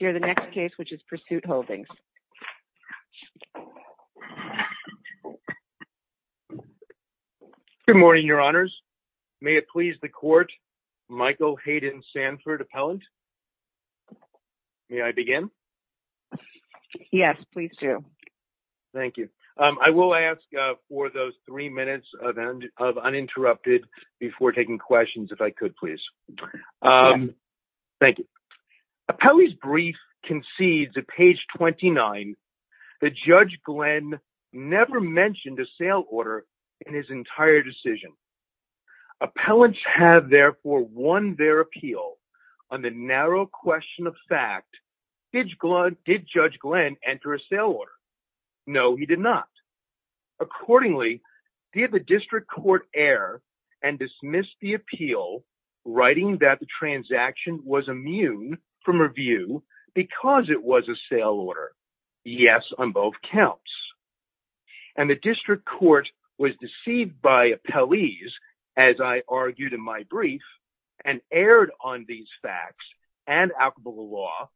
The next case is Pursuit Holdings. Good morning, your honors. May it please the court, Michael Hayden Sanford, appellant. May I begin? Yes, please do. Thank you. I will ask for those three minutes of uninterrupted before taking questions, if I could, please. Thank you. Appellee's brief concedes, at page 29, that Judge Glenn never mentioned a sale order in his entire decision. Appellants have, therefore, won their appeal on the narrow question of fact, did Judge Glenn enter a sale order? No, he did not. Accordingly, did the district court err and dismiss the appeal, writing that the transaction was immune from review because it was a sale order? Yes, on both counts. And the district court was deceived by appellees, as I argued in my brief, and erred on these facts and applicable law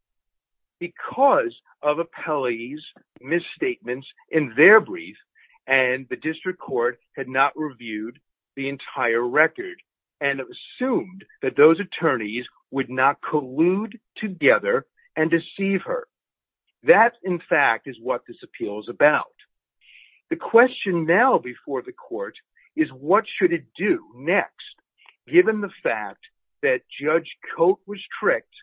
because of appellees' misstatements in their brief, and the district did not collude together and deceive her. That in fact is what this appeal is about. The question now before the court is what should it do next, given the fact that Judge Cote was tricked?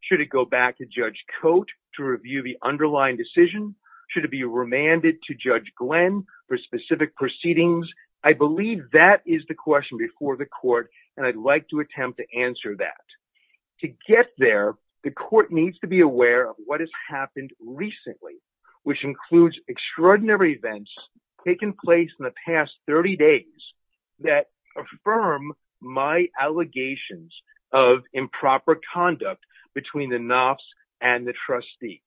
Should it go back to Judge Cote to review the underlying decision? Should it be remanded to Judge Glenn for specific proceedings? I believe that is the question before the court, and I'd like to attempt to answer that. To get there, the court needs to be aware of what has happened recently, which includes extraordinary events taking place in the past 30 days that affirm my allegations of improper conduct between the Knopf's and the trustee.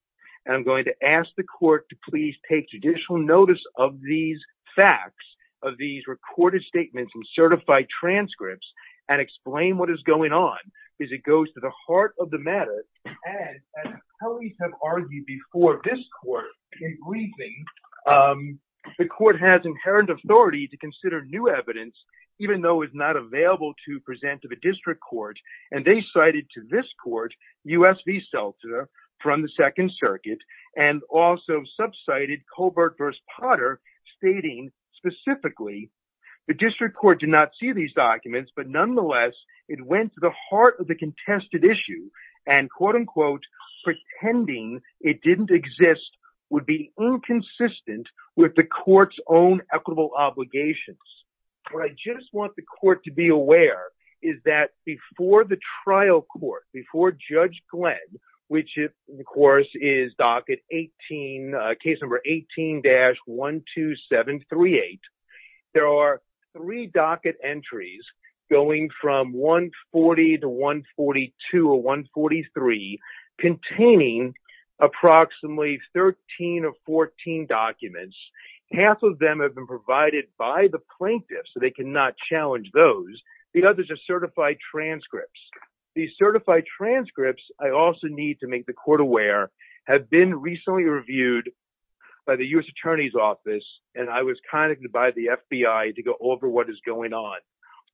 I'm going to ask the court to please take judicial notice of these facts, of these recorded statements and certified transcripts, and explain what is going on, because it goes to the heart of the matter. As appellees have argued before this court in briefings, the court has inherent authority to consider new evidence, even though it's not available to present to the district court, and they cited to this court U.S. v. Seltzer from the Second Circuit, and also subcited Colbert v. Potter, stating specifically the district court did not see these documents, but nonetheless, it went to the heart of the contested issue, and quote-unquote, pretending it didn't exist would be inconsistent with the court's own equitable obligations. What I just want the court to be aware is that before the trial court, before Judge Glenn, which of course is docket 18, case number 18-12738, there are three docket entries going from 140 to 142 or 143, containing approximately 13 or 14 documents, half of them have been plaintiffs, so they cannot challenge those. The others are certified transcripts. These certified transcripts, I also need to make the court aware, have been recently reviewed by the U.S. Attorney's Office, and I was contacted by the FBI to go over what is going on.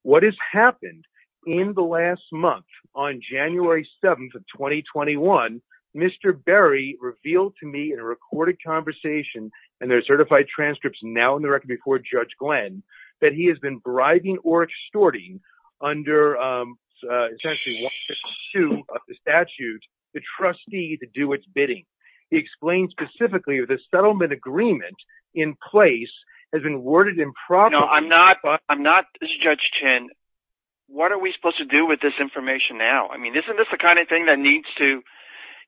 What has happened in the last month, on January 7th of 2021, Mr. Berry revealed to me in a recorded conversation, and there are certified transcripts now in the record before Judge Glenn, that he has been bribing or extorting under essentially what is the suit of the statute, the trustee to do its bidding. He explained specifically that the settlement agreement in place has been worded improperly. I'm not, Judge Chen, what are we supposed to do with this information now? Isn't this the kind of thing that needs to,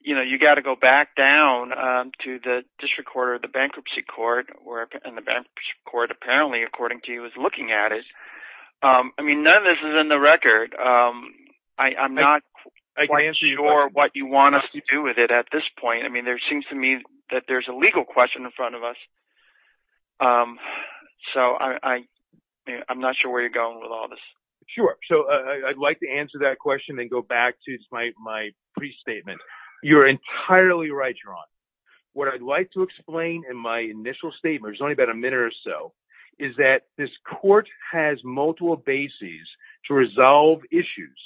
you know, you've got to go back down to the District Court or the Bankruptcy Court, and the Bankruptcy Court, apparently, according to you, is looking at it. I mean, none of this is in the record. I'm not quite sure what you want us to do with it at this point. I mean, there seems to me that there's a legal question in front of us, so I'm not sure where you're going with all this. Sure, so I'd like to answer that question and go back to my pre-statement. You're entirely right, Your Honor. What I'd like to explain in my initial statement, there's only about a minute or so, is that this court has multiple bases to resolve issues.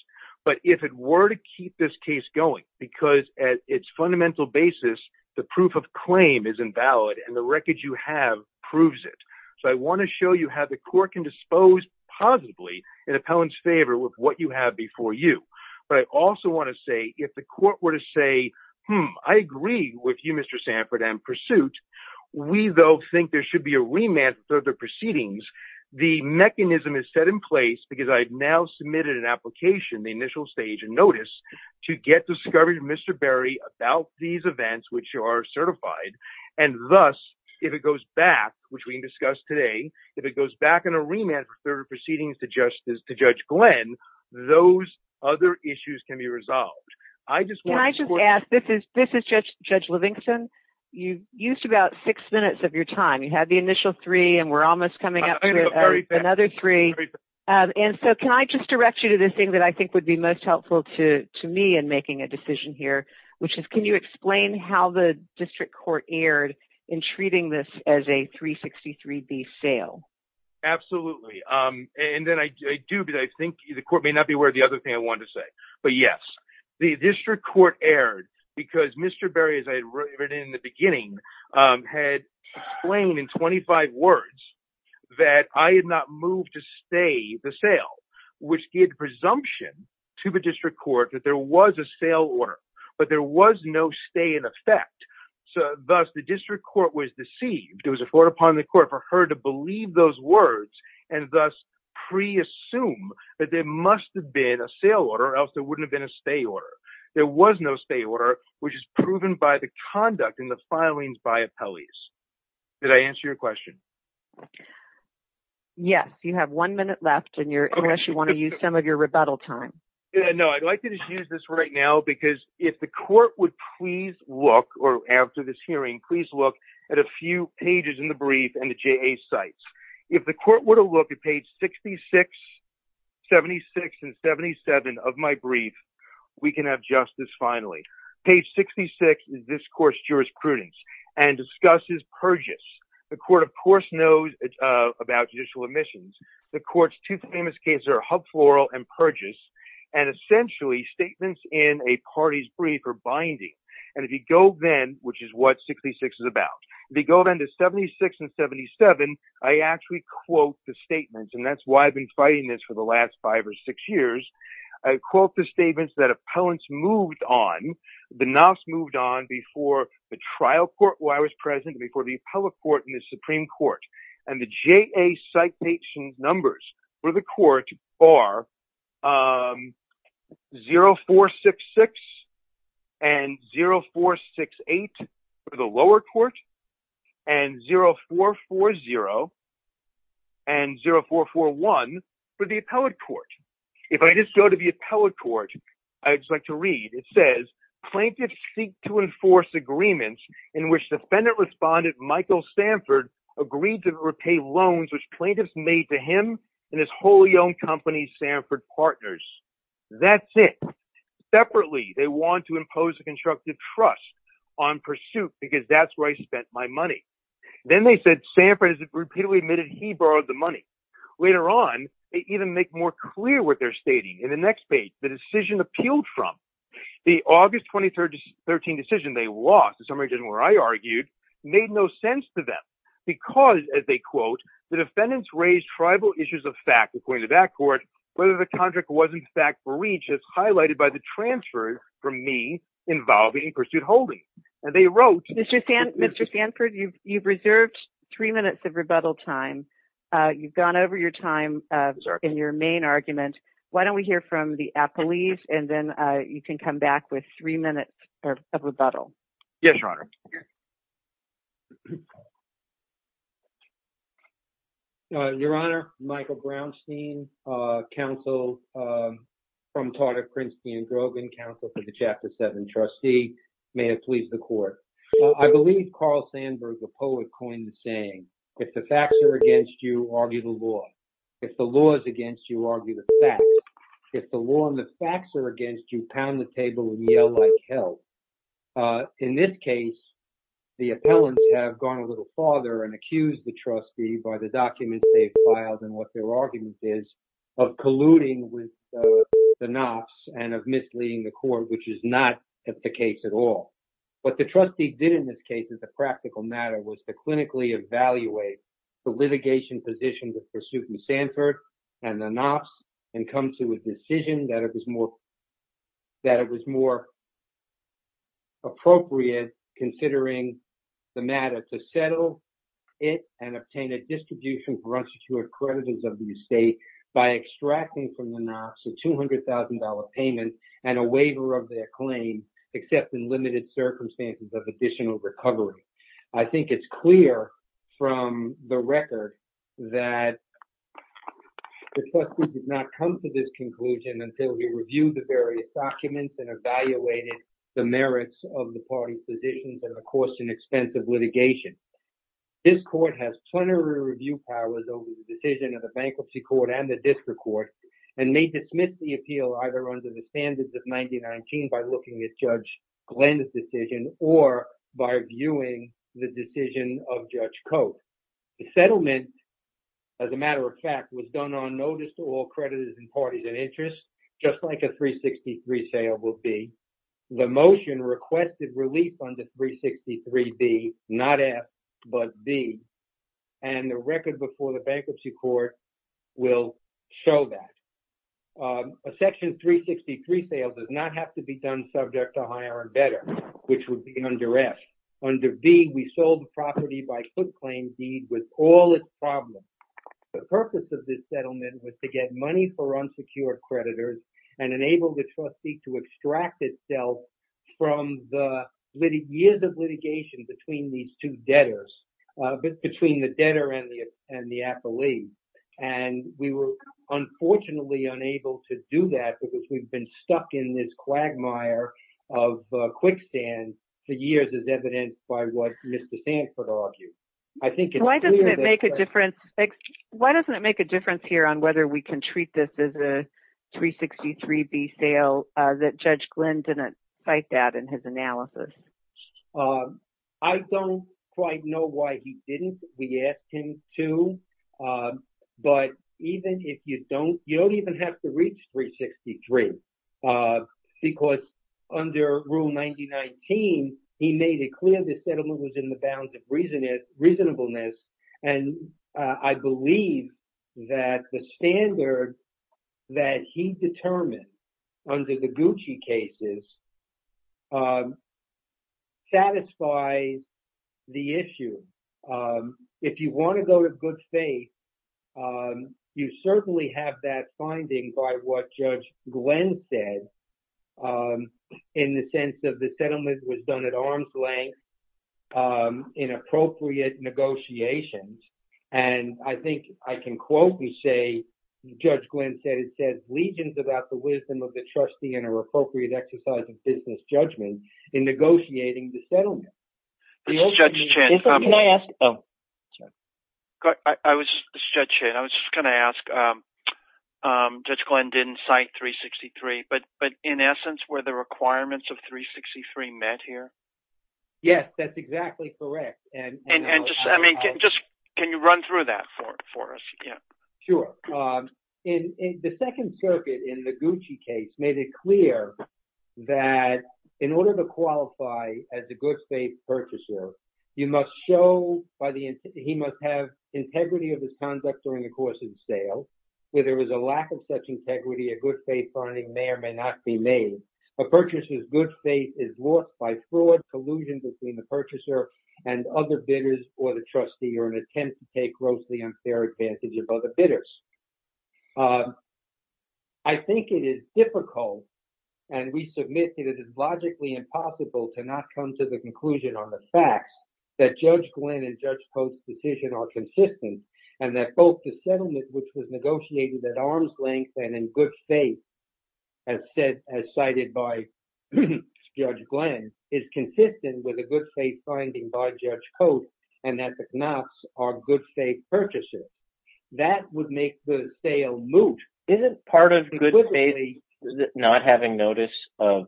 But if it were to keep this case going, because at its fundamental basis, the proof of claim is invalid, and the record you have proves it. So I want to show you how the court can dispose positively in an appellant's favor with what you have before you. But I also want to say, if the court were to say, hmm, I agree with you, Mr. Sanford, and Pursuit. We, though, think there should be a remand for the proceedings. The mechanism is set in place, because I've now submitted an application, the initial stage and notice, to get discovery from Mr. Berry about these events, which are certified. And thus, if it goes back, which we can discuss today, if it goes back in a remand for further proceedings to Judge Glenn, those other issues can be resolved. Can I just ask, this is Judge Livingston. You used about six minutes of your time. You had the initial three, and we're almost coming up to another three. And so can I just direct you to this thing that I think would be most helpful to me in District Court Erd in treating this as a 363B sale? Absolutely. And then I do, but I think the court may not be aware of the other thing I wanted to say. But yes. The District Court Erd, because Mr. Berry, as I read in the beginning, had explained in 25 words that I had not moved to stay the sale, which gave presumption to the District Court that there was a sale order, but there was no stay in effect. So thus, the District Court was deceived. It was afforded upon the court for her to believe those words and thus pre-assume that there must have been a sale order, or else there wouldn't have been a stay order. There was no stay order, which is proven by the conduct and the filings by appellees. Did I answer your question? Yes. You have one minute left, unless you want to use some of your rebuttal time. No, I'd like to just use this right now, because if the court would please look, or after this hearing, please look at a few pages in the brief and the JA's sites. If the court were to look at page 66, 76, and 77 of my brief, we can have justice finally. Page 66 is this court's jurisprudence and discusses Purgis. The court, of course, knows about judicial omissions. The court's two famous cases are Hub Floral and Purgis, and essentially, statements in a party's brief are binding. And if you go then, which is what 66 is about, if you go then to 76 and 77, I actually quote the statements. And that's why I've been fighting this for the last five or six years. I quote the statements that appellants moved on. The NAFs moved on before the trial court where I was present, before the appellate court and the Supreme Court. And the JA citation numbers for the court are 0466 and 0468 for the lower court, and 0440 and 0441 for the appellate court. If I just go to the appellate court, I would just like to read. It says, plaintiffs seek to enforce agreements in which defendant respondent Michael Stanford agreed to repay loans which plaintiffs made to him and his wholly owned company, Sanford Partners. That's it. Separately, they want to impose a constructive trust on pursuit, because that's where I spent my money. Then they said Sanford has repeatedly admitted he borrowed the money. Later on, they even make more clear what they're stating. In the next page, the decision appealed from. The August 2013 decision they lost, the summary decision where I argued, made no sense to them. Because, as they quote, the defendants raised tribal issues of fact, according to that court, whether the contract wasn't fact for reach as highlighted by the transfers from me involving pursuit holding. And they wrote. Mr. Stanford, you've reserved three minutes of rebuttal time. You've gone over your time in your main argument. Why don't we hear from the appellate, and then you can come back with three minutes of rebuttal. Yes, Your Honor. Your Honor, Michael Brownstein, counsel from target Princeton and Grogan, counsel for the chapter seven trustee, may it please the court. I believe Carl Sandburg, the poet, coined the saying, if the facts are against you, argue the law. If the law is against you, argue the fact. If the law and the facts are against you, pound the table and yell like hell. In this case, the appellants have gone a little farther, and accused the trustee by the documents they've filed, and what their argument is of colluding with the Knops, and of misleading the court, which is not the case at all. What the trustee did in this case is a practical matter, was to clinically evaluate the litigation position with pursuit and Stanford, and the Knops, and come to a decision that it was more appropriate, considering the matter, to settle it and obtain a distribution for unsecured creditors of the estate by extracting from the Knops a $200,000 payment and a waiver of their claim, except in limited circumstances of additional recovery. I think it's clear from the record that the trustee did not come to this conclusion until he reviewed the various documents and evaluated the merits of the party's positions, and of course, an expensive litigation. This court has plenary review powers over the decision of the Bankruptcy Court and the District Court, and may dismiss the appeal either under the standards of 9019 by looking at Judge Glenn's decision, or by viewing the decision of Judge Coates. The settlement, as a matter of fact, was done on notice to all creditors and parties of interest, just like a 363 sale will be. The motion requested relief under 363B, not F, but B, and the record before the Bankruptcy Court will show that. A section 363 sale does not have to be done subject to higher and better, which would be under F. Under B, we sold the property by foot claim deed with all its problems. The purpose of this settlement was to get money for unsecured creditors and enable the trustee to extract itself from the years of litigation between these two debtors, between the debtor and the affiliate, and we were unfortunately unable to do that because we've been stuck in this quagmire of quicksand for years, as evidenced by what Mr. Sanford argued. Why doesn't it make a difference here on whether we can treat this as a 363B sale that Judge Glenn didn't cite that in his analysis? I don't quite know why he didn't. We asked him to. But even if you don't, you don't even have to reach 363, because under Rule 9019, he made it clear this settlement was in the bounds of reasonableness, and I believe that the standard that he determined under the Gucci cases satisfies the issue. If you want to go to good faith, you certainly have that finding by what Judge Glenn said in the sense that the settlement was done at arm's length in appropriate negotiations, and I think I can quote you say, Judge Glenn said, it says, legions about the wisdom of the trustee and her appropriate exercise of business judgment in negotiating the settlement. This is Judge Chen. This is Judge Chen. I was just going to ask, um, Judge Glenn didn't cite 363, but in essence, were the requirements of 363 met here? Yes, that's exactly correct. And just, I mean, can you run through that for us? Yeah, sure. The Second Circuit in the Gucci case made it clear that in order to qualify as a good faith purchaser, you must show, he must have integrity of his conduct during course of sale. Whether it was a lack of such integrity, a good faith finding may or may not be made. A purchaser's good faith is wrought by fraud, collusion between the purchaser and other bidders or the trustee, or an attempt to take grossly unfair advantage of other bidders. I think it is difficult, and we submit that it is logically impossible to not come to the conclusion on the facts that Judge Glenn and Judge Post's decision are consistent, and that both the settlement, which was negotiated at arm's length and in good faith, as cited by Judge Glenn, is consistent with a good faith finding by Judge Post, and that the Knops are good faith purchasers. That would make the sale moot. Isn't part of good faith not having notice of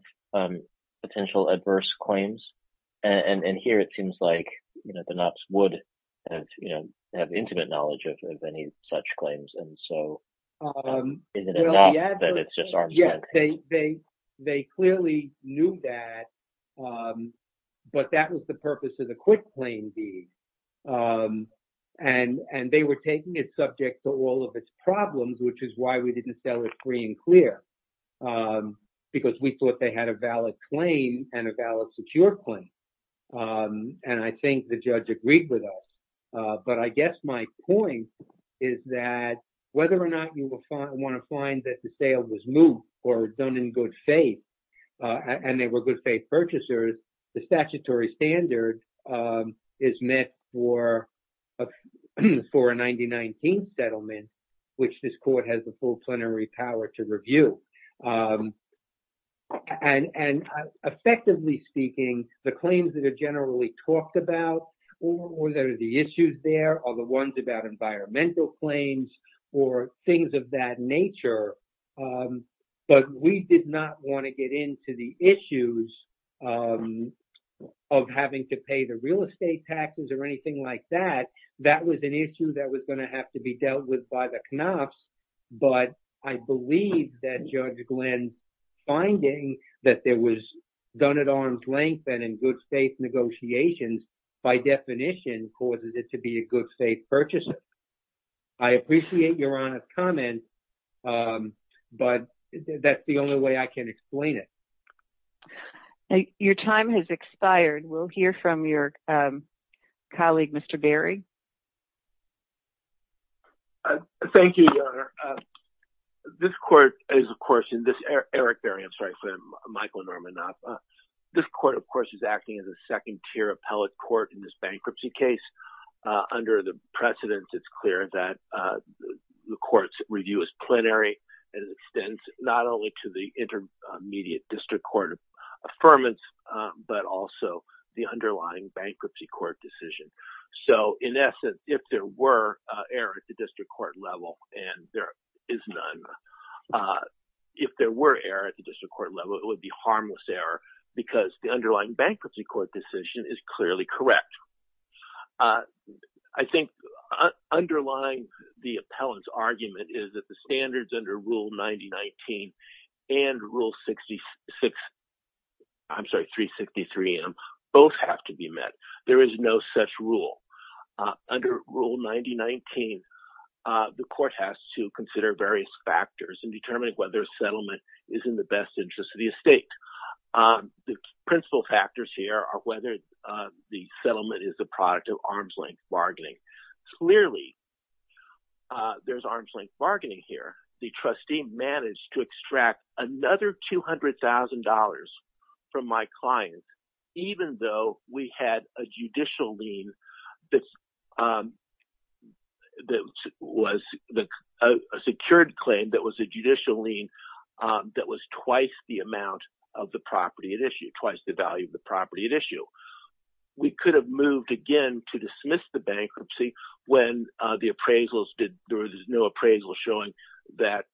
potential adverse claims? And here it seems like, the Knops would have intimate knowledge of any such claims, and so isn't it enough that it's just arm's length? Yes, they clearly knew that, but that was the purpose of the quick claim deed, and they were taking it subject to all of its problems, which is why we didn't sell it free and clear, because we thought they had a valid claim and a valid secure claim, and I think the judge agreed with us, but I guess my point is that whether or not you want to find that the sale was moot or done in good faith, and they were good faith purchasers, the statutory standard is met for a 1919 settlement, which this court has the full power to review. And effectively speaking, the claims that are generally talked about, or there are the issues there, or the ones about environmental claims, or things of that nature, but we did not want to get into the issues of having to pay the real estate taxes or anything like that. That was an issue that was going to have to be dealt with by the Knops, but I believe that Judge Glenn's finding that there was done at arm's length and in good faith negotiations, by definition, causes it to be a good faith purchaser. I appreciate your honest comment, but that's the only way I can explain it. Your time has expired. We'll hear from your colleague, Mr. Berry. Thank you, Your Honor. This court is, of course, and this Eric Berry, I'm sorry for him, Michael Norman Knops, this court, of course, is acting as a second tier appellate court in this bankruptcy case. Under the precedence, it's clear that the court's review is plenary and extends not only to the intermediate district court of affirmance, but also the court decision. So, in essence, if there were error at the district court level, and there is none, if there were error at the district court level, it would be harmless error because the underlying bankruptcy court decision is clearly correct. I think underlying the appellant's standards under Rule 90-19 and Rule 66, I'm sorry, 363 both have to be met. There is no such rule. Under Rule 90-19, the court has to consider various factors in determining whether a settlement is in the best interest of the estate. The principal factors here are whether the settlement is the product of arm's-length bargaining. Clearly, there's arm's-length bargaining here. The trustee managed to extract another $200,000 from my client, even though we had a judicial lien that was a secured claim that was a judicial lien that was twice the amount of the property at We could have moved again to dismiss the bankruptcy when there was no appraisal showing that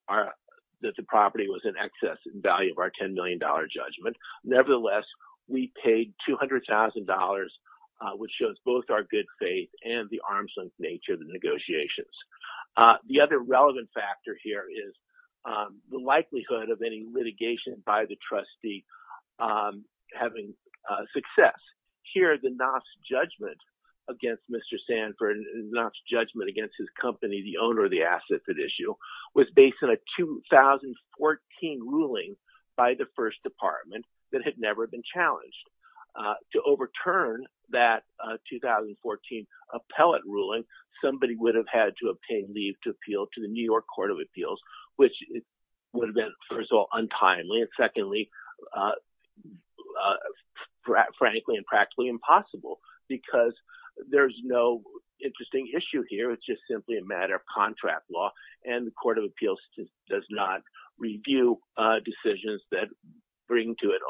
the property was in excess in value of our $10 million judgment. Nevertheless, we paid $200,000, which shows both our good faith and the arm's-length nature of the negotiations. The other relevant factor here is the likelihood of any litigation by the trustee having success. Here, the Knopf's judgment against Mr. Sanford, the Knopf's judgment against his company, the owner of the asset at issue, was based on a 2014 ruling by the first department that had never been challenged. To overturn that 2014 appellate ruling, somebody would have had to obtain leave to appeal to the New York Court of Appeals, which would have been, first of all, untimely, and secondly, frankly and practically impossible, because there's no interesting issue here. It's just simply a matter of contract law. The Court of Appeals does not review decisions that would bring to it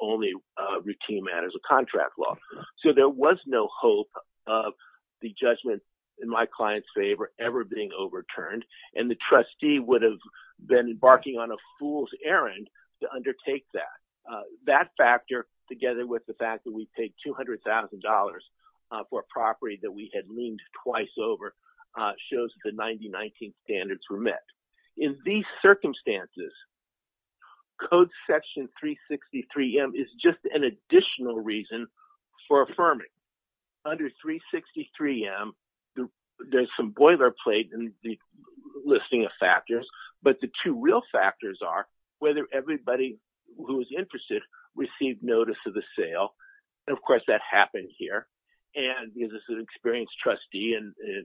only routine matters of contract law. There was no hope of the judgment in my client's favor ever being overturned. The trustee would have been embarking on a fool's errand to undertake that. That factor, together with the fact that we paid $200,000 for a property that we had leaned twice over, shows the 90-19 standards were met. In these circumstances, Code Section 363M is just an additional reason for affirming. Under 363M, there's some boilerplate in the listing of factors, but the two real factors are whether everybody who was interested received notice of the sale. Of course, that happened here. This is an experienced trustee,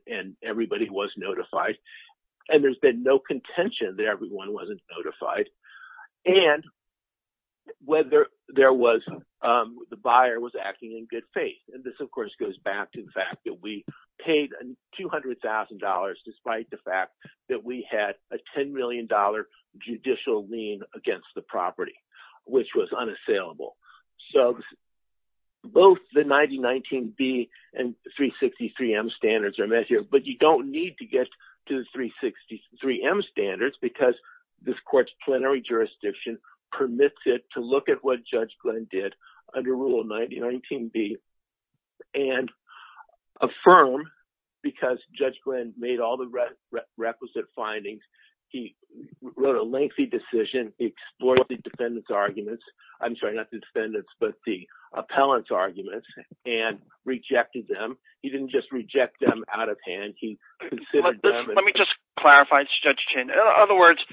and everybody was notified. There's been no contention that everyone wasn't notified, and whether the buyer was acting in good faith. This, of course, goes back to the fact that we paid $200,000 despite the fact that we had a $10 million judicial lien against the property, which was unassailable. Both the 90-19B and 363M standards are met here, but you don't need to get to the 363M standards because this court's plenary affirmed because Judge Glynn made all the requisite findings. He wrote a lengthy decision. He explored the defendant's arguments. I'm sorry, not the defendant's, but the appellant's arguments, and rejected them. He didn't just reject them out of hand. Let me just clarify, Judge Chin. In other words,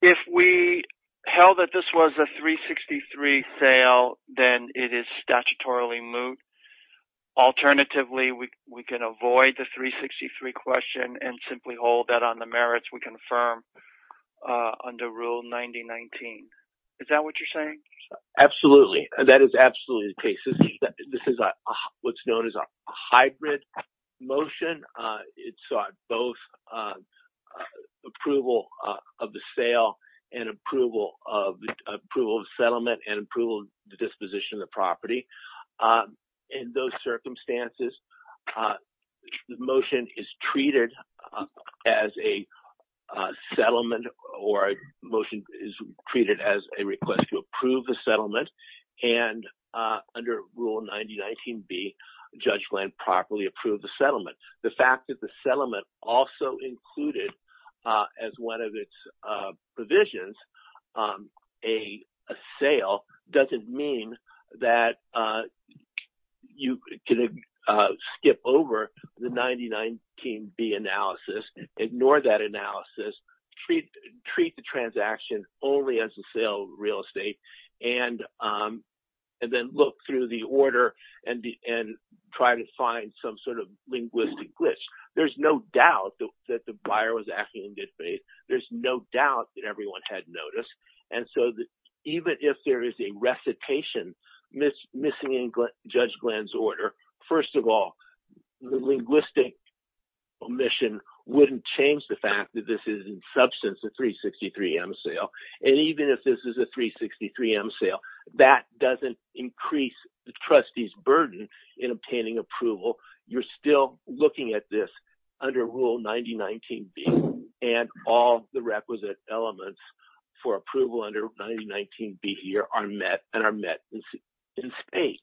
if we held that this was a 363 sale, then it is statutorily moot. Alternatively, we can avoid the 363 question and simply hold that on the merits we confirm under Rule 90-19. Is that what you're saying? Absolutely. That is absolutely the case. This is what's known as a hybrid motion. It's both an approval of the sale and approval of the settlement and approval of the disposition of the property. In those circumstances, the motion is treated as a settlement or a motion is treated as a request to approve the settlement. Under Rule 90-19B, Judge Glynn properly approved the settlement. The fact that the settlement also included as one of its provisions a sale doesn't mean that you can skip over the 90-19B analysis, ignore that analysis, treat the transaction only as a sale of real estate, and then look through the order and try to find some sort of linguistic glitch. There's no doubt that the buyer was acting in good faith. There's no doubt that everyone had noticed. Even if there is a recitation missing in Judge Glynn's order, first of all, the linguistic omission wouldn't change the fact that this is in substance a 363M sale. Even if this is a 363M sale, that doesn't increase the trustee's burden in obtaining approval. You're still looking at this under Rule 90-19B and all the requisite elements for approval under 90-19B here are met and are met in spades.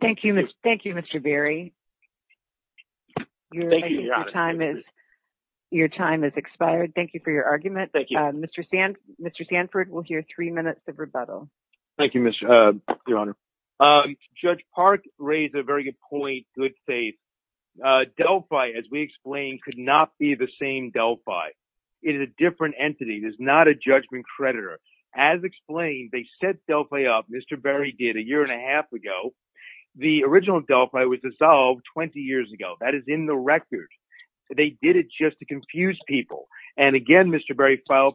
Thank you, Mr. Berry. Your time is expired. Thank you for your argument. Mr. Sanford will hear three minutes of rebuttal. Thank you, Your Honor. Judge Park raised a very good point, good faith. Delphi, as we explained, could not be the same Delphi. It is a different entity. It is not a judgment creditor. As explained, they set Delphi up, Mr. Berry did, a year and a half ago. The original Delphi was dissolved 20 years ago. That is in the record. They did it just to confuse people. And again, Mr. Berry filed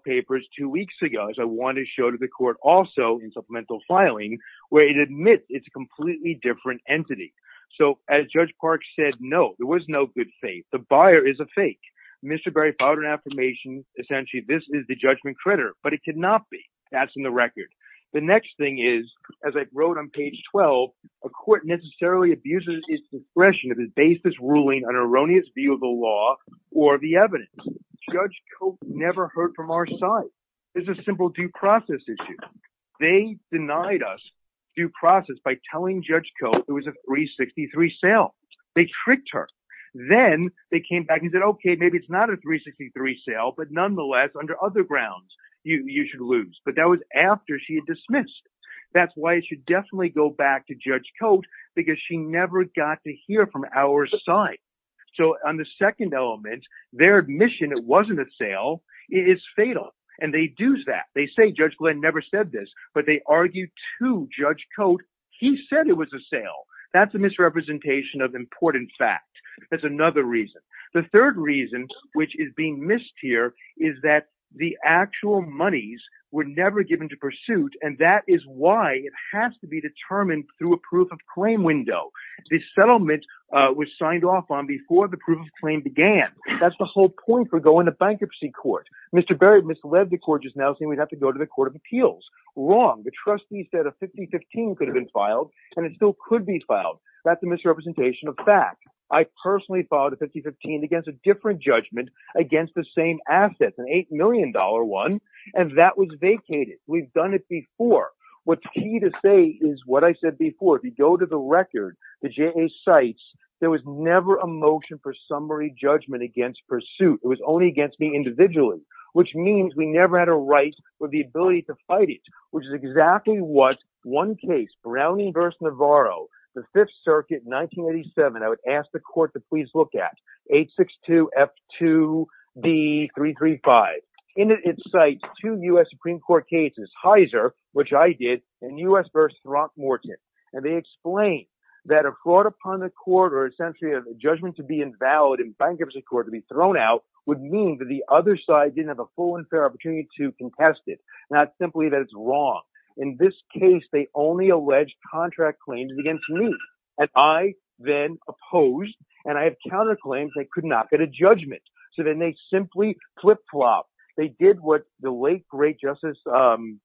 two weeks ago, as I wanted to show to the court also in supplemental filing, where it admits it's a completely different entity. So as Judge Park said, no, there was no good faith. The buyer is a fake. Mr. Berry filed an affirmation, essentially, this is the judgment creditor, but it could not be. That's in the record. The next thing is, as I wrote on page 12, a court necessarily abuses its discretion to base this ruling on an erroneous view of the law or the evidence. Judge Cote never heard from our side. It's a simple due process issue. They denied us due process by telling Judge Cote it was a 363 sale. They tricked her. Then they came back and said, okay, maybe it's not a 363 sale, but nonetheless, under other grounds, you should lose. But that was after she had dismissed. That's why it should definitely go back to Judge Cote, because she got to hear from our side. So on the second element, their admission it wasn't a sale is fatal. And they do that. They say Judge Glenn never said this, but they argued to Judge Cote, he said it was a sale. That's a misrepresentation of important fact. That's another reason. The third reason, which is being missed here, is that the actual monies were never given to the settlement was signed off on before the proof of claim began. That's the whole point for going to bankruptcy court. Mr. Berry misled the court just now saying we'd have to go to the Court of Appeals. Wrong. The trustee said a 50-15 could have been filed, and it still could be filed. That's a misrepresentation of fact. I personally filed a 50-15 against a different judgment against the same asset, an $8 million one, and that was vacated. We've done it before. What's key to say is what I said before. If you go to the record, the J.A. cites, there was never a motion for summary judgment against pursuit. It was only against me individually, which means we never had a right or the ability to fight it, which is exactly what one case, Brown v. Navarro, the Fifth Circuit, 1987, I would ask the court to please look at, 862F2B335. In it, it cites two U.S. Supreme Court cases, Heiser, which I did, and U.S. v. Throckmorton, and they explain that a fraud upon the court or essentially a judgment to be invalid in bankruptcy court to be thrown out would mean that the other side didn't have a full and fair opportunity to contest it, not simply that it's wrong. In this case, they only allege contract claims against me, and I then opposed, and I have counterclaims. They could not get a judgment, so then they simply flip-flopped. They did what the late great Justice Ruth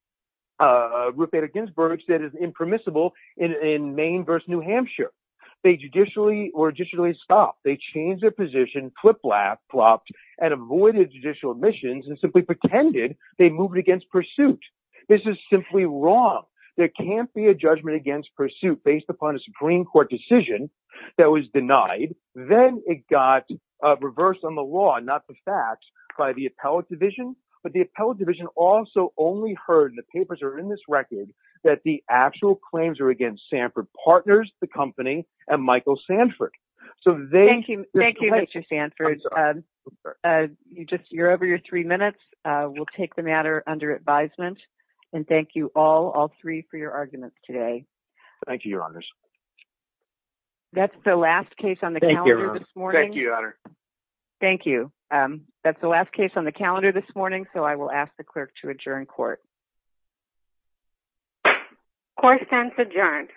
Bader Ginsburg said is impermissible in Maine v. New Hampshire. They judicially stopped. They changed their position, flip-flopped, and avoided judicial omissions and simply pretended they moved against pursuit. This is simply wrong. There can't be a judgment against pursuit based upon a Supreme Court decision that was denied. Then it got reversed on the law, not the facts, by the appellate division, but the appellate division also only heard, and the papers are in this record, that the actual claims are against Sanford Partners, the company, and Michael Sanford. Thank you, Mr. Sanford. You're over your three minutes. We'll take the matter under advisement, and thank you all, all three, for your arguments today. Thank you, Your Honors. That's the last case on the calendar this morning. Thank you, Your Honor. Thank you. That's the last case on the calendar this morning, so I will ask the clerk to adjourn court. Court stands adjourned.